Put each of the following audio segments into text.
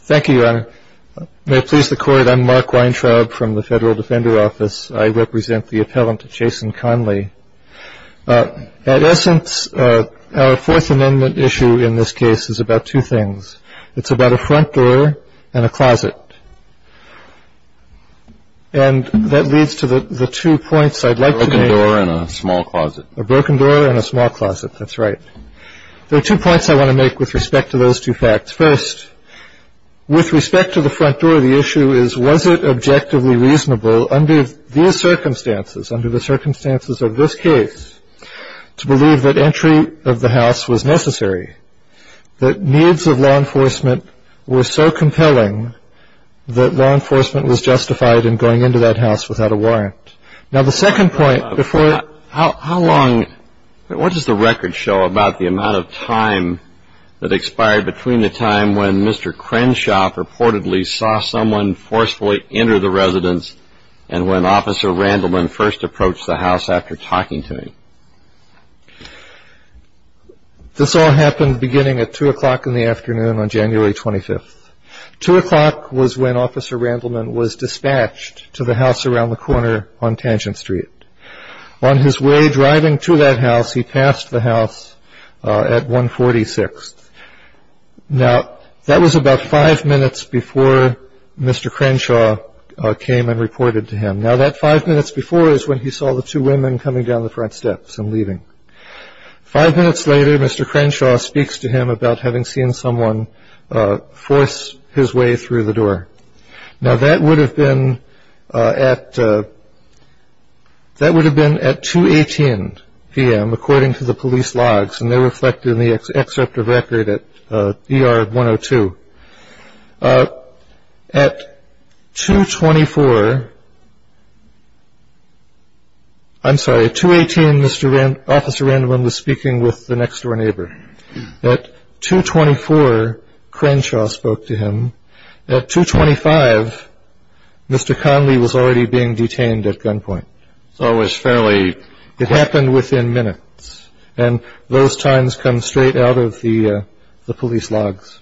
Thank you, Your Honor. May it please the Court, I'm Mark Weintraub from the Federal Defender Office. I represent the appellant, Jason Conley. At essence, our Fourth Amendment issue in this case is about two things. It's about a front door and a closet. And that leads to the two points I'd like to make. A broken door and a small closet. A broken door and a small closet, that's right. There are two points I want to make with respect to those two facts. First, with respect to the front door, the issue is, was it objectively reasonable under these circumstances, under the circumstances of this case, to believe that entry of the house was necessary, that needs of law enforcement were so compelling that law enforcement was justified in going into that house without a warrant? Now, the second point, how long, what does the record show about the amount of time that expired between the time when Mr. Crenshaw purportedly saw someone forcefully enter the residence and when Officer Randleman first approached the house after talking to him? This all happened beginning at 2 o'clock in the afternoon on January 25th. 2 o'clock was when Officer Randleman was dispatched to the house around the corner on Tangent Street. On his way driving to that house, he passed the house at 146th. Now, that was about five minutes before Mr. Crenshaw came and reported to him. Now, that five minutes before is when he saw the two women coming down the front steps and leaving. Five minutes later, Mr. Crenshaw speaks to him about having seen someone force his way through the door. Now, that would have been at 2.18 p.m., according to the police logs, and they're reflected in the excerpt of record at ER 102. At 2.24, I'm sorry, at 2.18, Officer Randleman was speaking with the next-door neighbor. At 2.24, Crenshaw spoke to him. At 2.25, Mr. Conley was already being detained at gunpoint. So it was fairly— It happened within minutes, and those times come straight out of the police logs.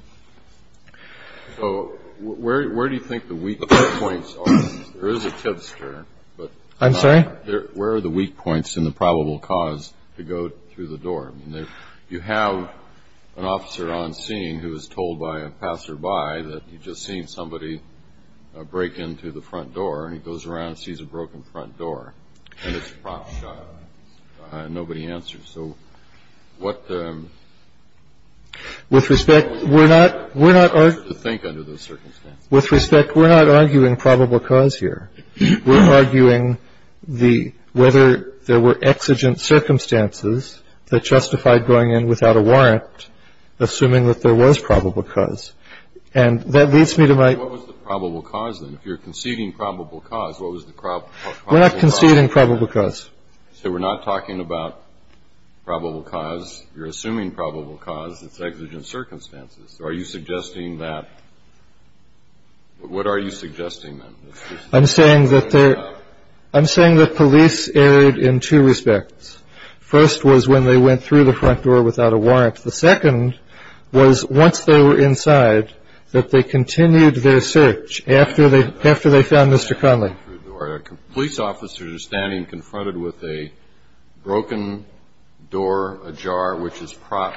So where do you think the weak points are? There is a tipster, but— I'm sorry? Where are the weak points in the probable cause to go through the door? I mean, you have an officer on scene who was told by a passerby that he'd just seen somebody break into the front door, and he goes around and sees a broken front door, and it's a prop shot. Nobody answers. So what— With respect, we're not— —to think under those circumstances. With respect, we're not arguing probable cause here. We're arguing whether there were exigent circumstances that justified going in without a warrant, assuming that there was probable cause. And that leads me to my— What was the probable cause, then? If you're conceding probable cause, what was the probable cause? We're not conceding probable cause. So we're not talking about probable cause. You're assuming probable cause. It's exigent circumstances. So are you suggesting that— What are you suggesting, then? I'm saying that there— I'm saying that police erred in two respects. First was when they went through the front door without a warrant. The second was once they were inside, that they continued their search after they found Mr. Conley. Police officers are standing confronted with a broken door, a jar, which is prop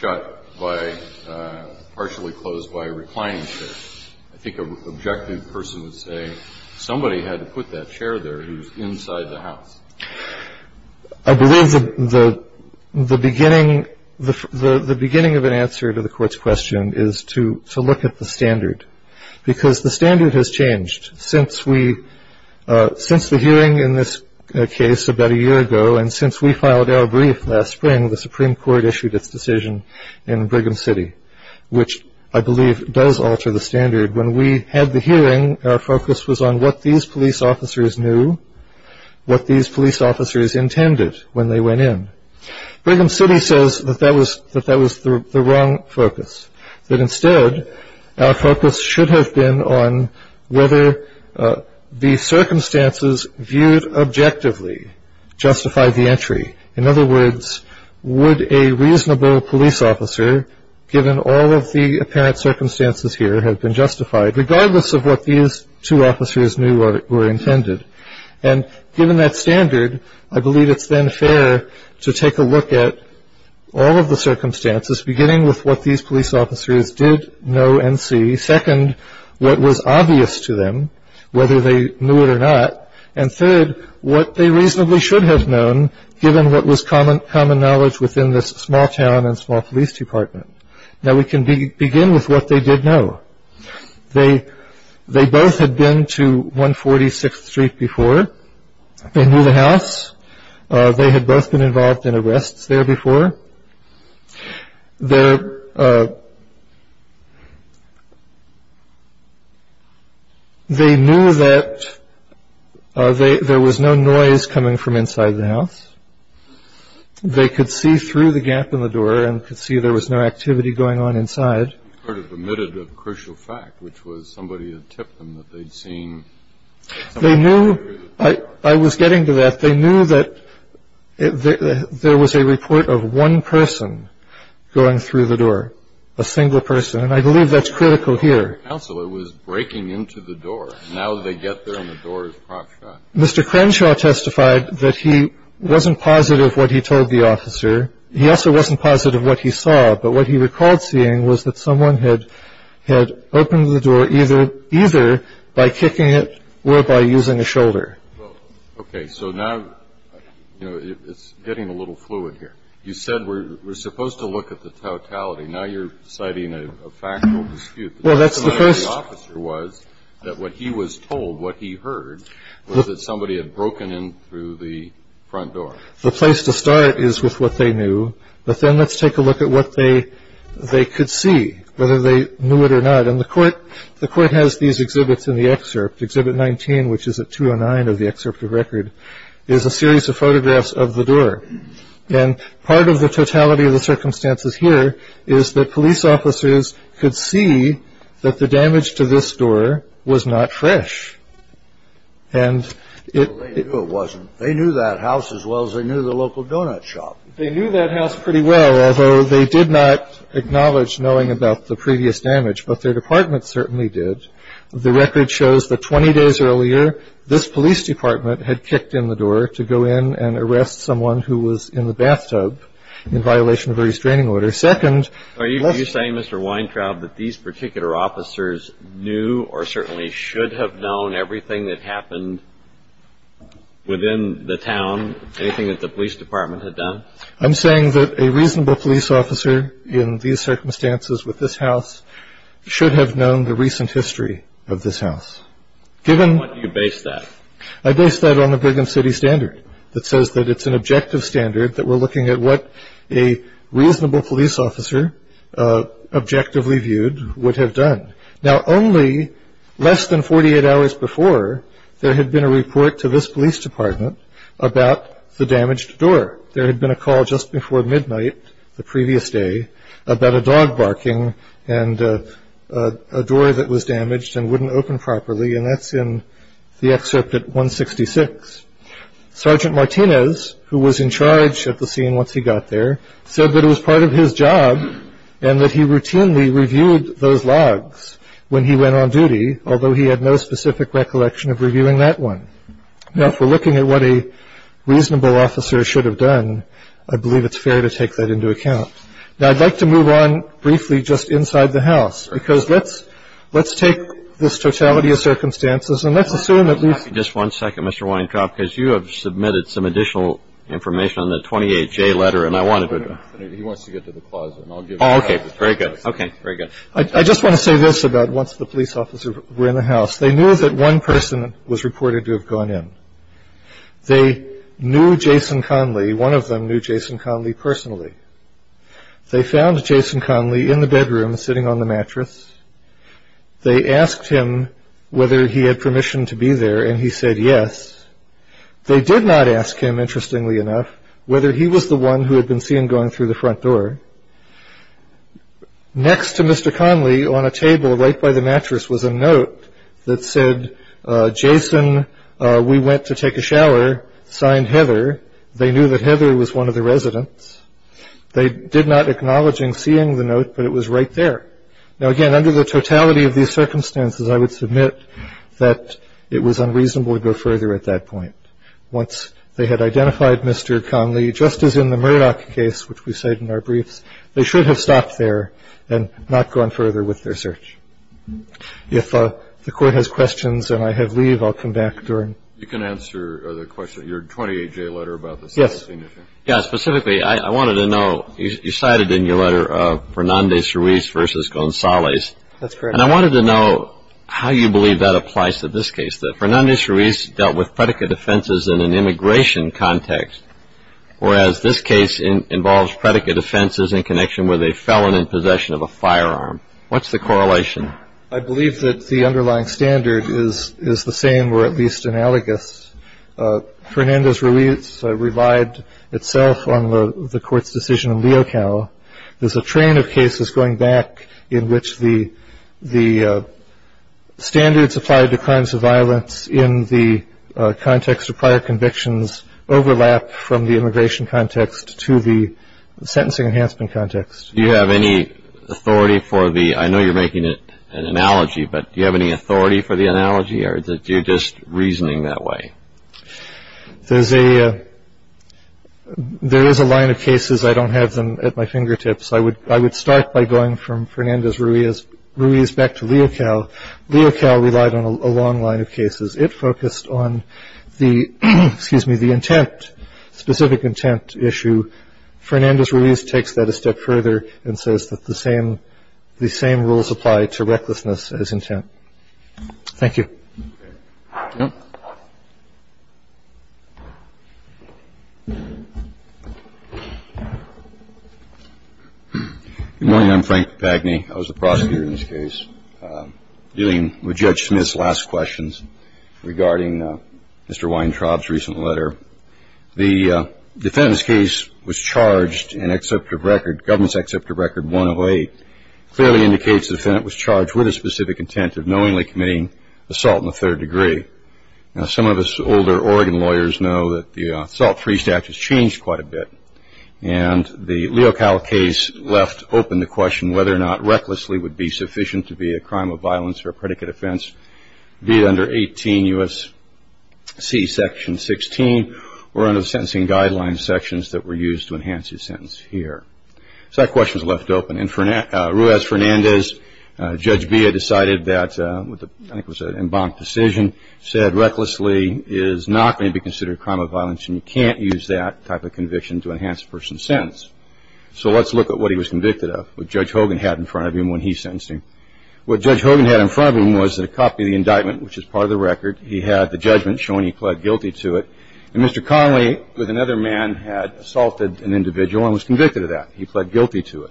shot by—partially closed by a reclining chair. I think an objective person would say somebody had to put that chair there. It was inside the house. I believe the beginning— the beginning of an answer to the Court's question is to look at the standard because the standard has changed since we— since the hearing in this case about a year ago and since we filed our brief last spring, the Supreme Court issued its decision in Brigham City, which I believe does alter the standard. When we had the hearing, our focus was on what these police officers knew, what these police officers intended when they went in. Brigham City says that that was the wrong focus, that instead our focus should have been on whether the circumstances viewed objectively justified the entry. In other words, would a reasonable police officer, given all of the apparent circumstances here, have been justified, regardless of what these two officers knew or intended? And given that standard, I believe it's then fair to take a look at all of the circumstances, beginning with what these police officers did know and see, second, what was obvious to them, whether they knew it or not, and third, what they reasonably should have known, given what was common knowledge within this small town and small police department. Now we can begin with what they did know. They both had been to 146th Street before. They knew the house. They had both been involved in arrests there before. They knew that there was no noise coming from inside the house. They could see through the gap in the door and could see there was no activity going on inside. They sort of omitted a crucial fact, which was somebody had tipped them that they'd seen somebody through the door. I was getting to that. They knew that there was a report of one person going through the door, a single person, and I believe that's critical here. A counselor was breaking into the door. Now they get there and the door is crocked shut. Mr. Crenshaw testified that he wasn't positive what he told the officer. He also wasn't positive what he saw. But what he recalled seeing was that someone had opened the door either by kicking it or by using a shoulder. Okay, so now it's getting a little fluid here. You said we're supposed to look at the totality. Now you're citing a factual dispute. Well, that's the first. The officer was that what he was told, what he heard, was that somebody had broken in through the front door. The place to start is with what they knew. But then let's take a look at what they could see, whether they knew it or not. And the court has these exhibits in the excerpt. Exhibit 19, which is at 209 of the excerpt of record, is a series of photographs of the door. And part of the totality of the circumstances here is that police officers could see that the damage to this door was not fresh. Well, they knew it wasn't. They knew that house as well as they knew the local donut shop. They knew that house pretty well, although they did not acknowledge knowing about the previous damage. But their department certainly did. The record shows that 20 days earlier, this police department had kicked in the door to go in and arrest someone who was in the bathtub in violation of a restraining order. Are you saying, Mr. Weintraub, that these particular officers knew or certainly should have known everything that happened within the town, anything that the police department had done? I'm saying that a reasonable police officer in these circumstances with this house should have known the recent history of this house. What do you base that? I base that on the Brigham City Standard that says that it's an objective standard, that we're looking at what a reasonable police officer objectively viewed would have done. Now, only less than 48 hours before, there had been a report to this police department about the damaged door. There had been a call just before midnight the previous day about a dog barking and a door that was damaged and wouldn't open properly, and that's in the excerpt at 166. Sergeant Martinez, who was in charge at the scene once he got there, said that it was part of his job and that he routinely reviewed those logs when he went on duty, although he had no specific recollection of reviewing that one. Now, if we're looking at what a reasonable officer should have done, I believe it's fair to take that into account. Now, I'd like to move on briefly just inside the house, because let's take this totality of circumstances and let's assume at least — Just one second, Mr. Weintraub, because you have submitted some additional information on the 28J letter, and I wanted to — He wants to get to the clause, and I'll give it to him. Oh, okay. Very good. Very good. I just want to say this about once the police officer were in the house. They knew that one person was reported to have gone in. They knew Jason Conley. One of them knew Jason Conley personally. They found Jason Conley in the bedroom sitting on the mattress. They asked him whether he had permission to be there, and he said yes. They did not ask him, interestingly enough, whether he was the one who had been seen going through the front door. Next to Mr. Conley on a table right by the mattress was a note that said, Jason, we went to take a shower, signed Heather. They knew that Heather was one of the residents. They did not acknowledge him seeing the note, but it was right there. Now, again, under the totality of these circumstances, I would submit that it was unreasonable to go further at that point. Once they had identified Mr. Conley, just as in the Murdoch case, which we cite in our briefs, they should have stopped there and not gone further with their search. If the court has questions and I have leave, I'll come back during. You can answer the question, your 28-J letter about this. Yes. Specifically, I wanted to know, you cited in your letter Fernandez-Ruiz versus Gonzalez. That's correct. And I wanted to know how you believe that applies to this case, that Fernandez-Ruiz dealt with predicate offenses in an immigration context, whereas this case involves predicate offenses in connection with a felon in possession of a firearm. What's the correlation? I believe that the underlying standard is the same or at least analogous. Fernandez-Ruiz relied itself on the Court's decision in Leocal. There's a train of cases going back in which the standards applied to crimes of violence in the context of prior convictions overlap from the immigration context to the sentencing enhancement context. Do you have any authority for the – I know you're making an analogy, but do you have any authority for the analogy or is it you're just reasoning that way? There is a line of cases. I don't have them at my fingertips. I would start by going from Fernandez-Ruiz back to Leocal. Leocal relied on a long line of cases. It focused on the – excuse me – the intent, specific intent issue. Fernandez-Ruiz takes that a step further and says that the same rules apply to recklessness as intent. Thank you. Yep. Good morning. I'm Frank Papagni. I was the prosecutor in this case dealing with Judge Smith's last questions regarding Mr. Weintraub's recent letter. The defendant's case was charged and accepted record – government's accepted record 108 clearly indicates the defendant was charged with a specific intent of knowingly committing assault in the third degree. Now, some of us older Oregon lawyers know that the Assault Free Statute has changed quite a bit, and the Leocal case left open the question whether or not recklessly would be sufficient to be a crime of violence or a predicate offense, be it under 18 U.S.C. Section 16 or under the Sentencing Guidelines sections that were used to enhance his sentence here. So that question is left open. And Ruiz-Fernandez, Judge Bia, decided that, I think it was an embanked decision, said recklessly is not going to be considered a crime of violence and you can't use that type of conviction to enhance a person's sentence. So let's look at what he was convicted of, what Judge Hogan had in front of him when he sentenced him. What Judge Hogan had in front of him was a copy of the indictment, which is part of the record. He had the judgment showing he pled guilty to it. And Mr. Conley, with another man, had assaulted an individual and was convicted of that. He pled guilty to it.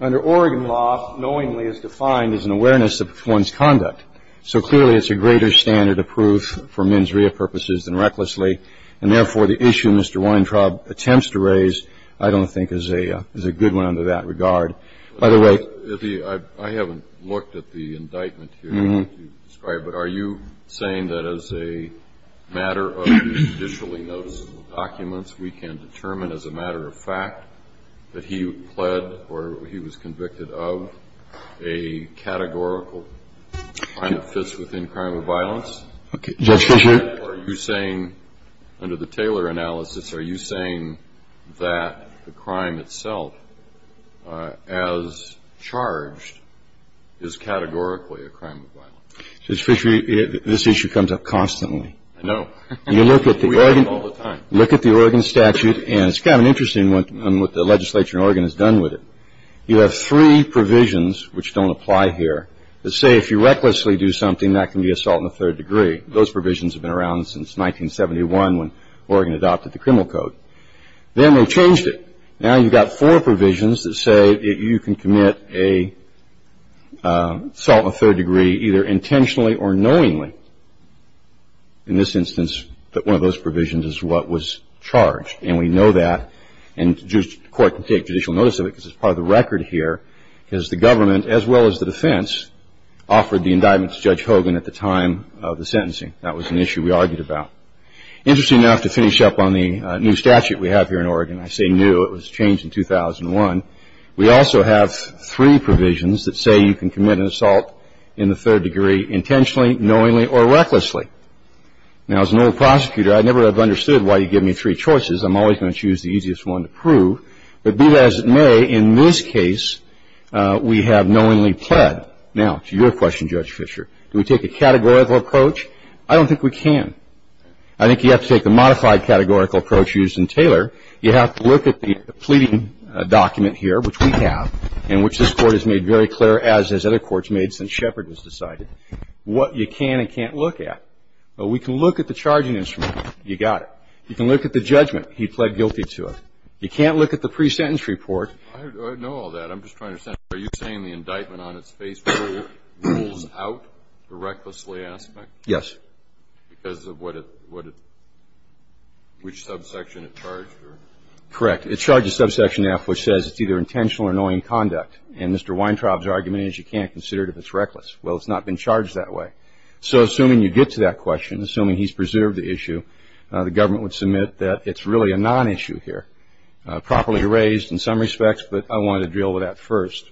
Under Oregon law, knowingly is defined as an awareness of one's conduct. So clearly, it's a greater standard of proof for mens rea purposes than recklessly. And therefore, the issue Mr. Weintraub attempts to raise I don't think is a good one under that regard. By the way ---- I haven't looked at the indictment here that you've described. But are you saying that as a matter of judicially noticeable documents, we can determine as a matter of fact that he pled or he was convicted of a categorical crime that fits within crime of violence? Okay. Judge Fisher? Or are you saying under the Taylor analysis, are you saying that the crime itself as charged is categorically a crime of violence? Judge Fisher, this issue comes up constantly. I know. You look at the Oregon ---- We have it all the time. Look at the Oregon statute. And it's kind of interesting what the legislature in Oregon has done with it. You have three provisions which don't apply here that say if you recklessly do something, that can be assault in the third degree. Those provisions have been around since 1971 when Oregon adopted the criminal code. Then they changed it. Now you've got four provisions that say you can commit an assault in the third degree either intentionally or knowingly. In this instance, one of those provisions is what was charged. And we know that. And the court can take judicial notice of it because it's part of the record here, because the government as well as the defense offered the indictment to Judge Hogan at the time of the sentencing. That was an issue we argued about. Interesting enough to finish up on the new statute we have here in Oregon, I say new. It was changed in 2001. We also have three provisions that say you can commit an assault in the third degree intentionally, knowingly, or recklessly. Now, as an old prosecutor, I never have understood why you give me three choices. I'm always going to choose the easiest one to prove. But be that as it may, in this case, we have knowingly pled. Now, to your question, Judge Fischer, do we take a categorical approach? I don't think we can. I think you have to take the modified categorical approach used in Taylor. You have to look at the pleading document here, which we have, and which this Court has made very clear, as has other courts made since Shepard was decided, what you can and can't look at. But we can look at the charging instrument. You got it. You can look at the judgment. He pled guilty to it. You can't look at the pre-sentence report. I know all that. I'm just trying to understand. Are you saying the indictment on its face rules out the recklessly aspect? Yes. Because of which subsection it charged? Correct. It charges subsection F, which says it's either intentional or knowing conduct. And Mr. Weintraub's argument is you can't consider it if it's reckless. Well, it's not been charged that way. So assuming you get to that question, assuming he's preserved the issue, the government would submit that it's really a non-issue here, properly raised in some respects, but I wanted to deal with that first.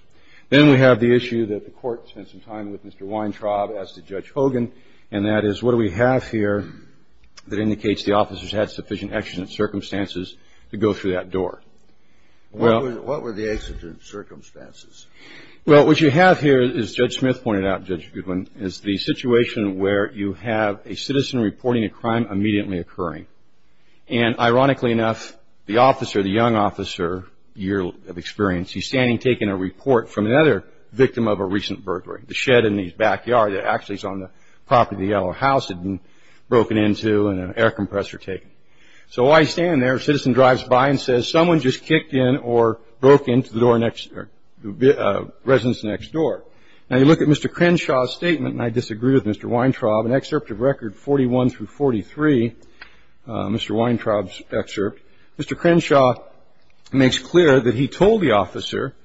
Then we have the issue that the Court spent some time with Mr. Weintraub as did Judge Hogan, and that is what do we have here that indicates the officer's had sufficient exigent circumstances to go through that door? What were the exigent circumstances? Well, what you have here, as Judge Smith pointed out, Judge Goodwin, is the situation where you have a citizen reporting a crime immediately occurring. And ironically enough, the officer, the young officer, year of experience, he's standing taking a report from another victim of a recent burglary. The shed in his backyard that actually is on the property of the Yellow House had been broken into and an air compressor taken. So while he's standing there, a citizen drives by and says, someone just kicked in or broke into the door next or the residence next door. Now, you look at Mr. Crenshaw's statement, and I disagree with Mr. Weintraub, an excerpt of Record 41 through 43, Mr. Weintraub's excerpt, Mr. Crenshaw makes clear that he told the officer,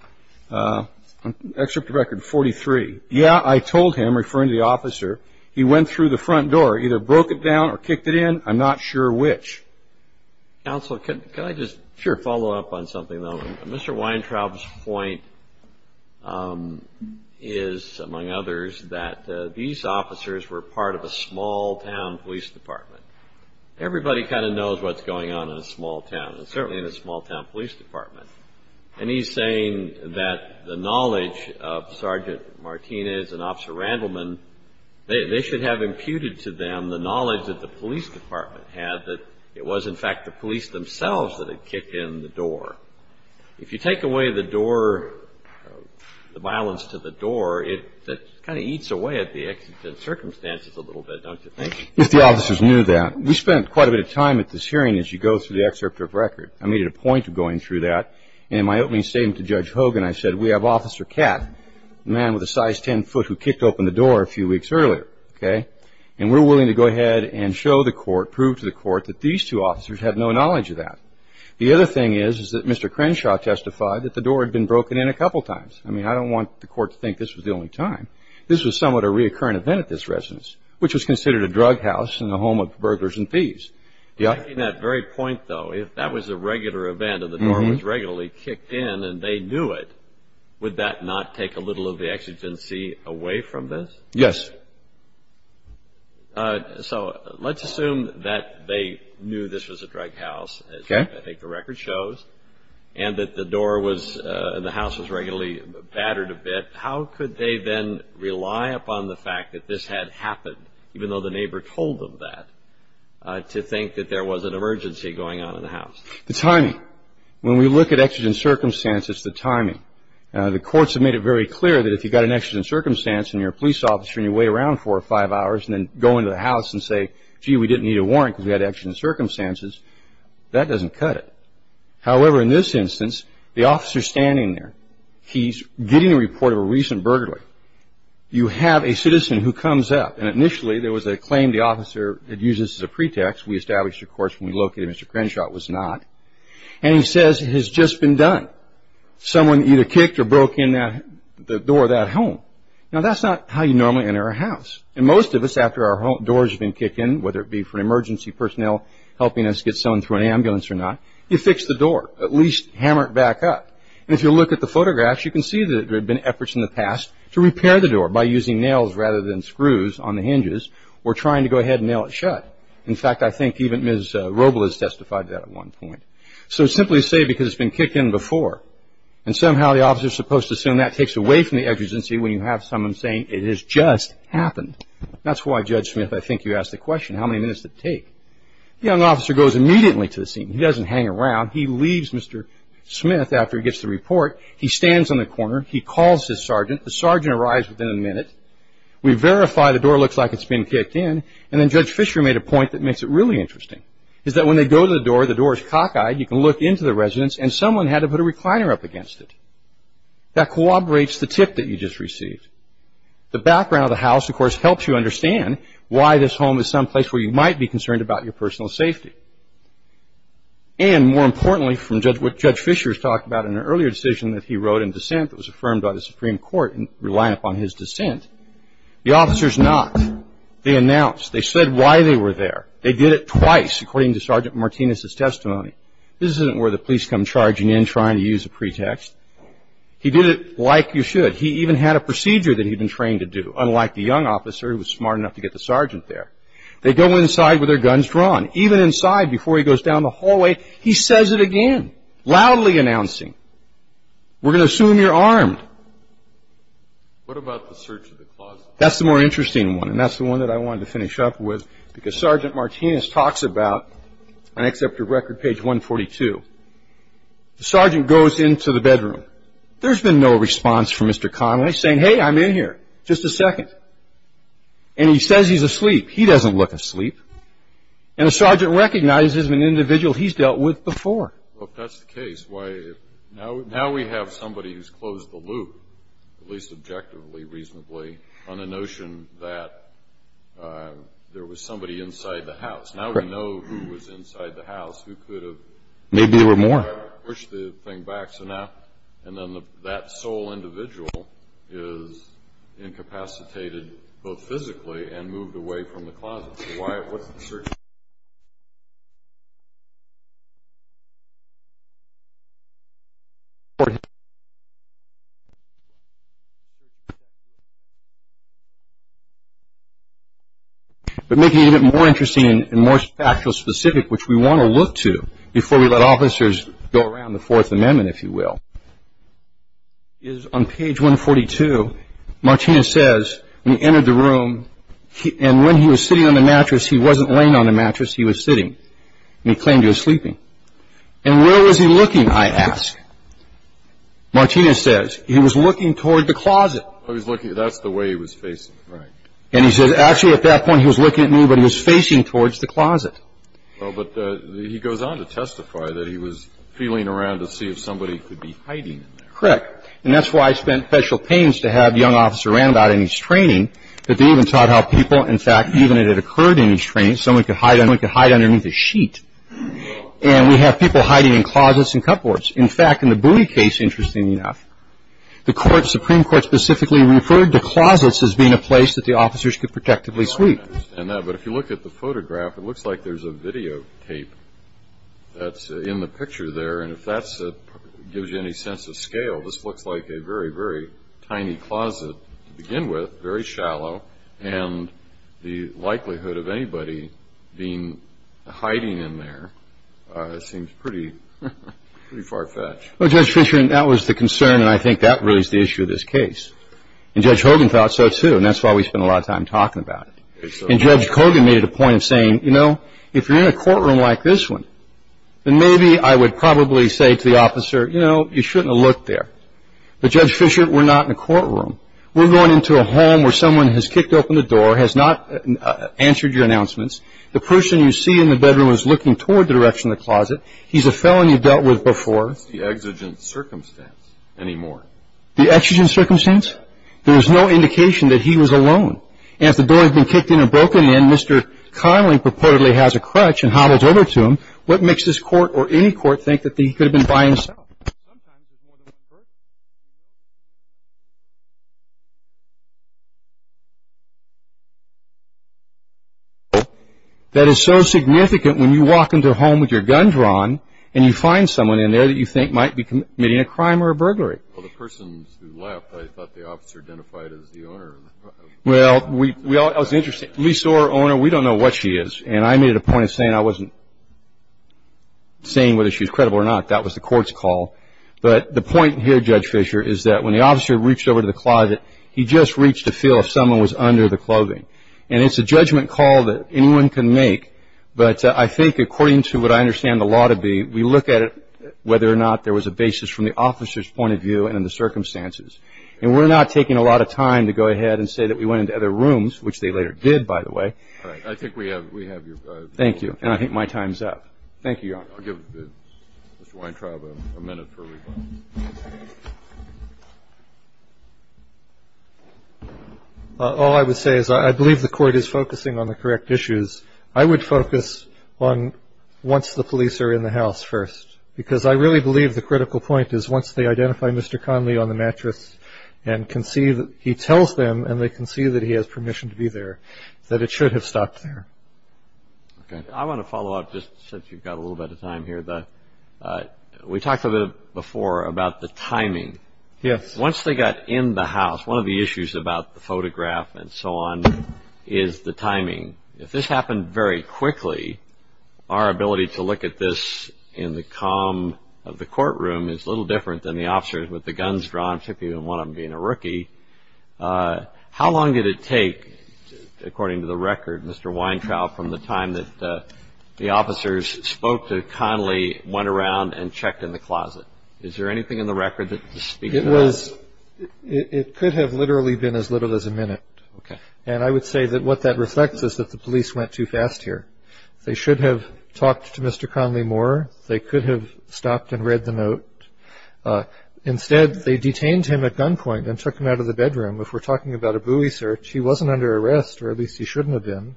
excerpt of Record 43, yeah, I told him, referring to the officer, he went through the front door, either broke it down or kicked it in, I'm not sure which. Counsel, can I just follow up on something, though? Mr. Weintraub's point is, among others, that these officers were part of a small-town police department. Everybody kind of knows what's going on in a small town, and certainly in a small-town police department. And he's saying that the knowledge of Sergeant Martinez and Officer Randleman, they should have imputed to them the knowledge that the police department had, that it was, in fact, the police themselves that had kicked in the door. If you take away the door, the violence to the door, it kind of eats away at the circumstances a little bit, don't you think? If the officers knew that. We spent quite a bit of time at this hearing as you go through the excerpt of Record. I made it a point of going through that. In my opening statement to Judge Hogan, I said, we have Officer Katt, a man with a size 10 foot who kicked open the door a few weeks earlier, okay? And we're willing to go ahead and show the court, prove to the court, that these two officers have no knowledge of that. The other thing is, is that Mr. Crenshaw testified that the door had been broken in a couple times. I mean, I don't want the court to think this was the only time. This was somewhat a reoccurring event at this residence, which was considered a drug house and the home of burglars and thieves. In that very point, though, if that was a regular event and the door was regularly kicked in and they knew it, would that not take a little of the exigency away from this? Yes. So let's assume that they knew this was a drug house, as I think the Record shows, and that the door was and the house was regularly battered a bit. How could they then rely upon the fact that this had happened, even though the neighbor told them that, to think that there was an emergency going on in the house? The timing. When we look at exigent circumstances, it's the timing. The courts have made it very clear that if you've got an exigent circumstance and you're a police officer and you wait around four or five hours and then go into the house and say, gee, we didn't need a warrant because we had exigent circumstances, that doesn't cut it. However, in this instance, the officer is standing there. He's getting a report of a recent burglary. You have a citizen who comes up, and initially there was a claim the officer had used this as a pretext. We established, of course, when we located Mr. Crenshaw, it was not. And he says, it has just been done. Someone either kicked or broke in the door of that home. Now, that's not how you normally enter a house. And most of us, after our doors have been kicked in, whether it be for an emergency personnel helping us get someone through an ambulance or not, you fix the door, at least hammer it back up. And if you look at the photographs, you can see that there have been efforts in the past to repair the door by using nails rather than screws on the hinges or trying to go ahead and nail it shut. In fact, I think even Ms. Roble has testified to that at one point. So simply say because it's been kicked in before, and somehow the officer is supposed to assume that takes away from the exigency when you have someone saying it has just happened. That's why, Judge Smith, I think you asked the question, how many minutes does it take? The young officer goes immediately to the scene. He doesn't hang around. He leaves Mr. Smith after he gets the report. He stands on the corner. He calls his sergeant. The sergeant arrives within a minute. We verify the door looks like it's been kicked in. And then Judge Fisher made a point that makes it really interesting, is that when they go to the door, the door is cockeyed. You can look into the residence, and someone had to put a recliner up against it. That corroborates the tip that you just received. The background of the house, of course, helps you understand why this home is someplace where you might be concerned about your personal safety. And more importantly, from what Judge Fisher has talked about in an earlier decision that he wrote in dissent that was affirmed by the Supreme Court relying upon his dissent, the officers not. They announced. They said why they were there. They did it twice, according to Sergeant Martinez's testimony. This isn't where the police come charging in trying to use a pretext. He did it like you should. He even had a procedure that he'd been trained to do, unlike the young officer who was smart enough to get the sergeant there. They go inside with their guns drawn. Even inside, before he goes down the hallway, he says it again, loudly announcing, we're going to assume you're armed. What about the search of the closet? That's the more interesting one, and that's the one that I wanted to finish up with, because Sergeant Martinez talks about, and I accept your record, page 142. The sergeant goes into the bedroom. There's been no response from Mr. Connelly, saying, hey, I'm in here. Just a second. And he says he's asleep. He doesn't look asleep. And the sergeant recognizes an individual he's dealt with before. That's the case. Now we have somebody who's closed the loop, at least objectively, reasonably, on the notion that there was somebody inside the house. Now we know who was inside the house, who could have pushed the thing back. And then that sole individual is incapacitated both physically and moved away from the closet. That's why it wasn't the sergeant. But making it a bit more interesting and more factual specific, which we want to look to before we let officers go around the Fourth Amendment, if you will, is on page 142, Martinez says, when he entered the room, and when he was sitting on the mattress, he wasn't laying on the mattress. He was sitting. And he claimed he was sleeping. And where was he looking, I ask? Martinez says, he was looking toward the closet. He was looking. That's the way he was facing. Right. And he says, actually, at that point, he was looking at me, but he was facing towards the closet. Well, but he goes on to testify that he was feeling around to see if somebody could be hiding in there. Correct. And that's why I spent special pains to have young officer Randout in his training, that they even taught how people, in fact, even if it occurred in his training, someone could hide underneath a sheet. And we have people hiding in closets and cupboards. In fact, in the Bowie case, interestingly enough, the Supreme Court specifically referred to closets as being a place that the officers could protectively sleep. I understand that. But if you look at the photograph, it looks like there's a videotape that's in the picture there. And if that gives you any sense of scale, this looks like a very, very tiny closet to begin with, very shallow. And the likelihood of anybody being hiding in there seems pretty far-fetched. Well, Judge Fisher, that was the concern, and I think that raised the issue of this case. And Judge Hogan thought so, too. And that's why we spent a lot of time talking about it. And Judge Hogan made it a point of saying, you know, if you're in a courtroom like this one, then maybe I would probably say to the officer, you know, you shouldn't have looked there. But, Judge Fisher, we're not in a courtroom. We're going into a home where someone has kicked open the door, has not answered your announcements. The person you see in the bedroom is looking toward the direction of the closet. He's a felon you've dealt with before. What's the exigent circumstance anymore? The exigent circumstance? There is no indication that he was alone. And if the door has been kicked in or broken in, Mr. Connelly purportedly has a crutch and hobbles over to him, what makes this court or any court think that he could have been by himself? Sometimes there's more than one person in the room. That is so significant when you walk into a home with your guns drawn and you find someone in there that you think might be committing a crime or a burglary. Well, the person who left, I thought the officer identified as the owner. Well, I was interested. Lease or owner, we don't know what she is. And I made a point of saying I wasn't saying whether she was credible or not. That was the court's call. But the point here, Judge Fisher, is that when the officer reached over to the closet, he just reached to feel if someone was under the clothing. And it's a judgment call that anyone can make. But I think according to what I understand the law to be, we look at it whether or not there was a basis from the officer's point of view and in the circumstances. And we're not taking a lot of time to go ahead and say that we went into other rooms, which they later did, by the way. All right. I think we have your time. Thank you. And I think my time is up. Thank you, Your Honor. I'll give Mr. Weintraub a minute for rebuttal. All I would say is I believe the court is focusing on the correct issues. I would focus on once the police are in the house first. Because I really believe the critical point is once they identify Mr. Conley on the mattress and can see that he tells them and they can see that he has permission to be there, that it should have stopped there. Okay. I want to follow up just since you've got a little bit of time here. We talked a little bit before about the timing. Yes. Once they got in the house, one of the issues about the photograph and so on is the timing. If this happened very quickly, our ability to look at this in the calm of the courtroom is a little different than the officers with the guns drawn, particularly one of them being a rookie. How long did it take, according to the record, Mr. Weintraub, from the time that the officers spoke to Conley, went around, and checked in the closet? Is there anything in the record that speaks to that? It could have literally been as little as a minute. Okay. I would say that what that reflects is that the police went too fast here. They should have talked to Mr. Conley more. They could have stopped and read the note. Instead, they detained him at gunpoint and took him out of the bedroom. If we're talking about a buoy search, he wasn't under arrest, or at least he shouldn't have been.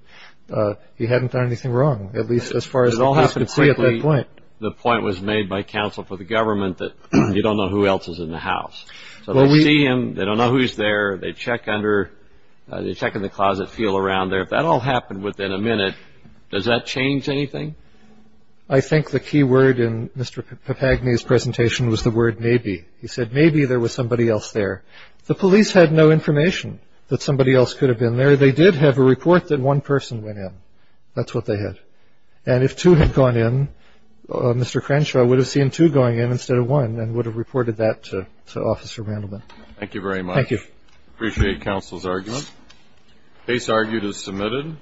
He hadn't done anything wrong, at least as far as the police could see at that point. It all happened quickly. The point was made by counsel for the government that you don't know who else is in the house. They see him. They don't know who's there. They check in the closet, feel around there. If that all happened within a minute, does that change anything? I think the key word in Mr. Papagni's presentation was the word maybe. He said maybe there was somebody else there. The police had no information that somebody else could have been there. They did have a report that one person went in. That's what they had. And if two had gone in, Mr. Crenshaw would have seen two going in instead of one and would have reported that to Officer Randleman. Thank you very much. Thank you. Appreciate counsel's argument. Case argued as submitted.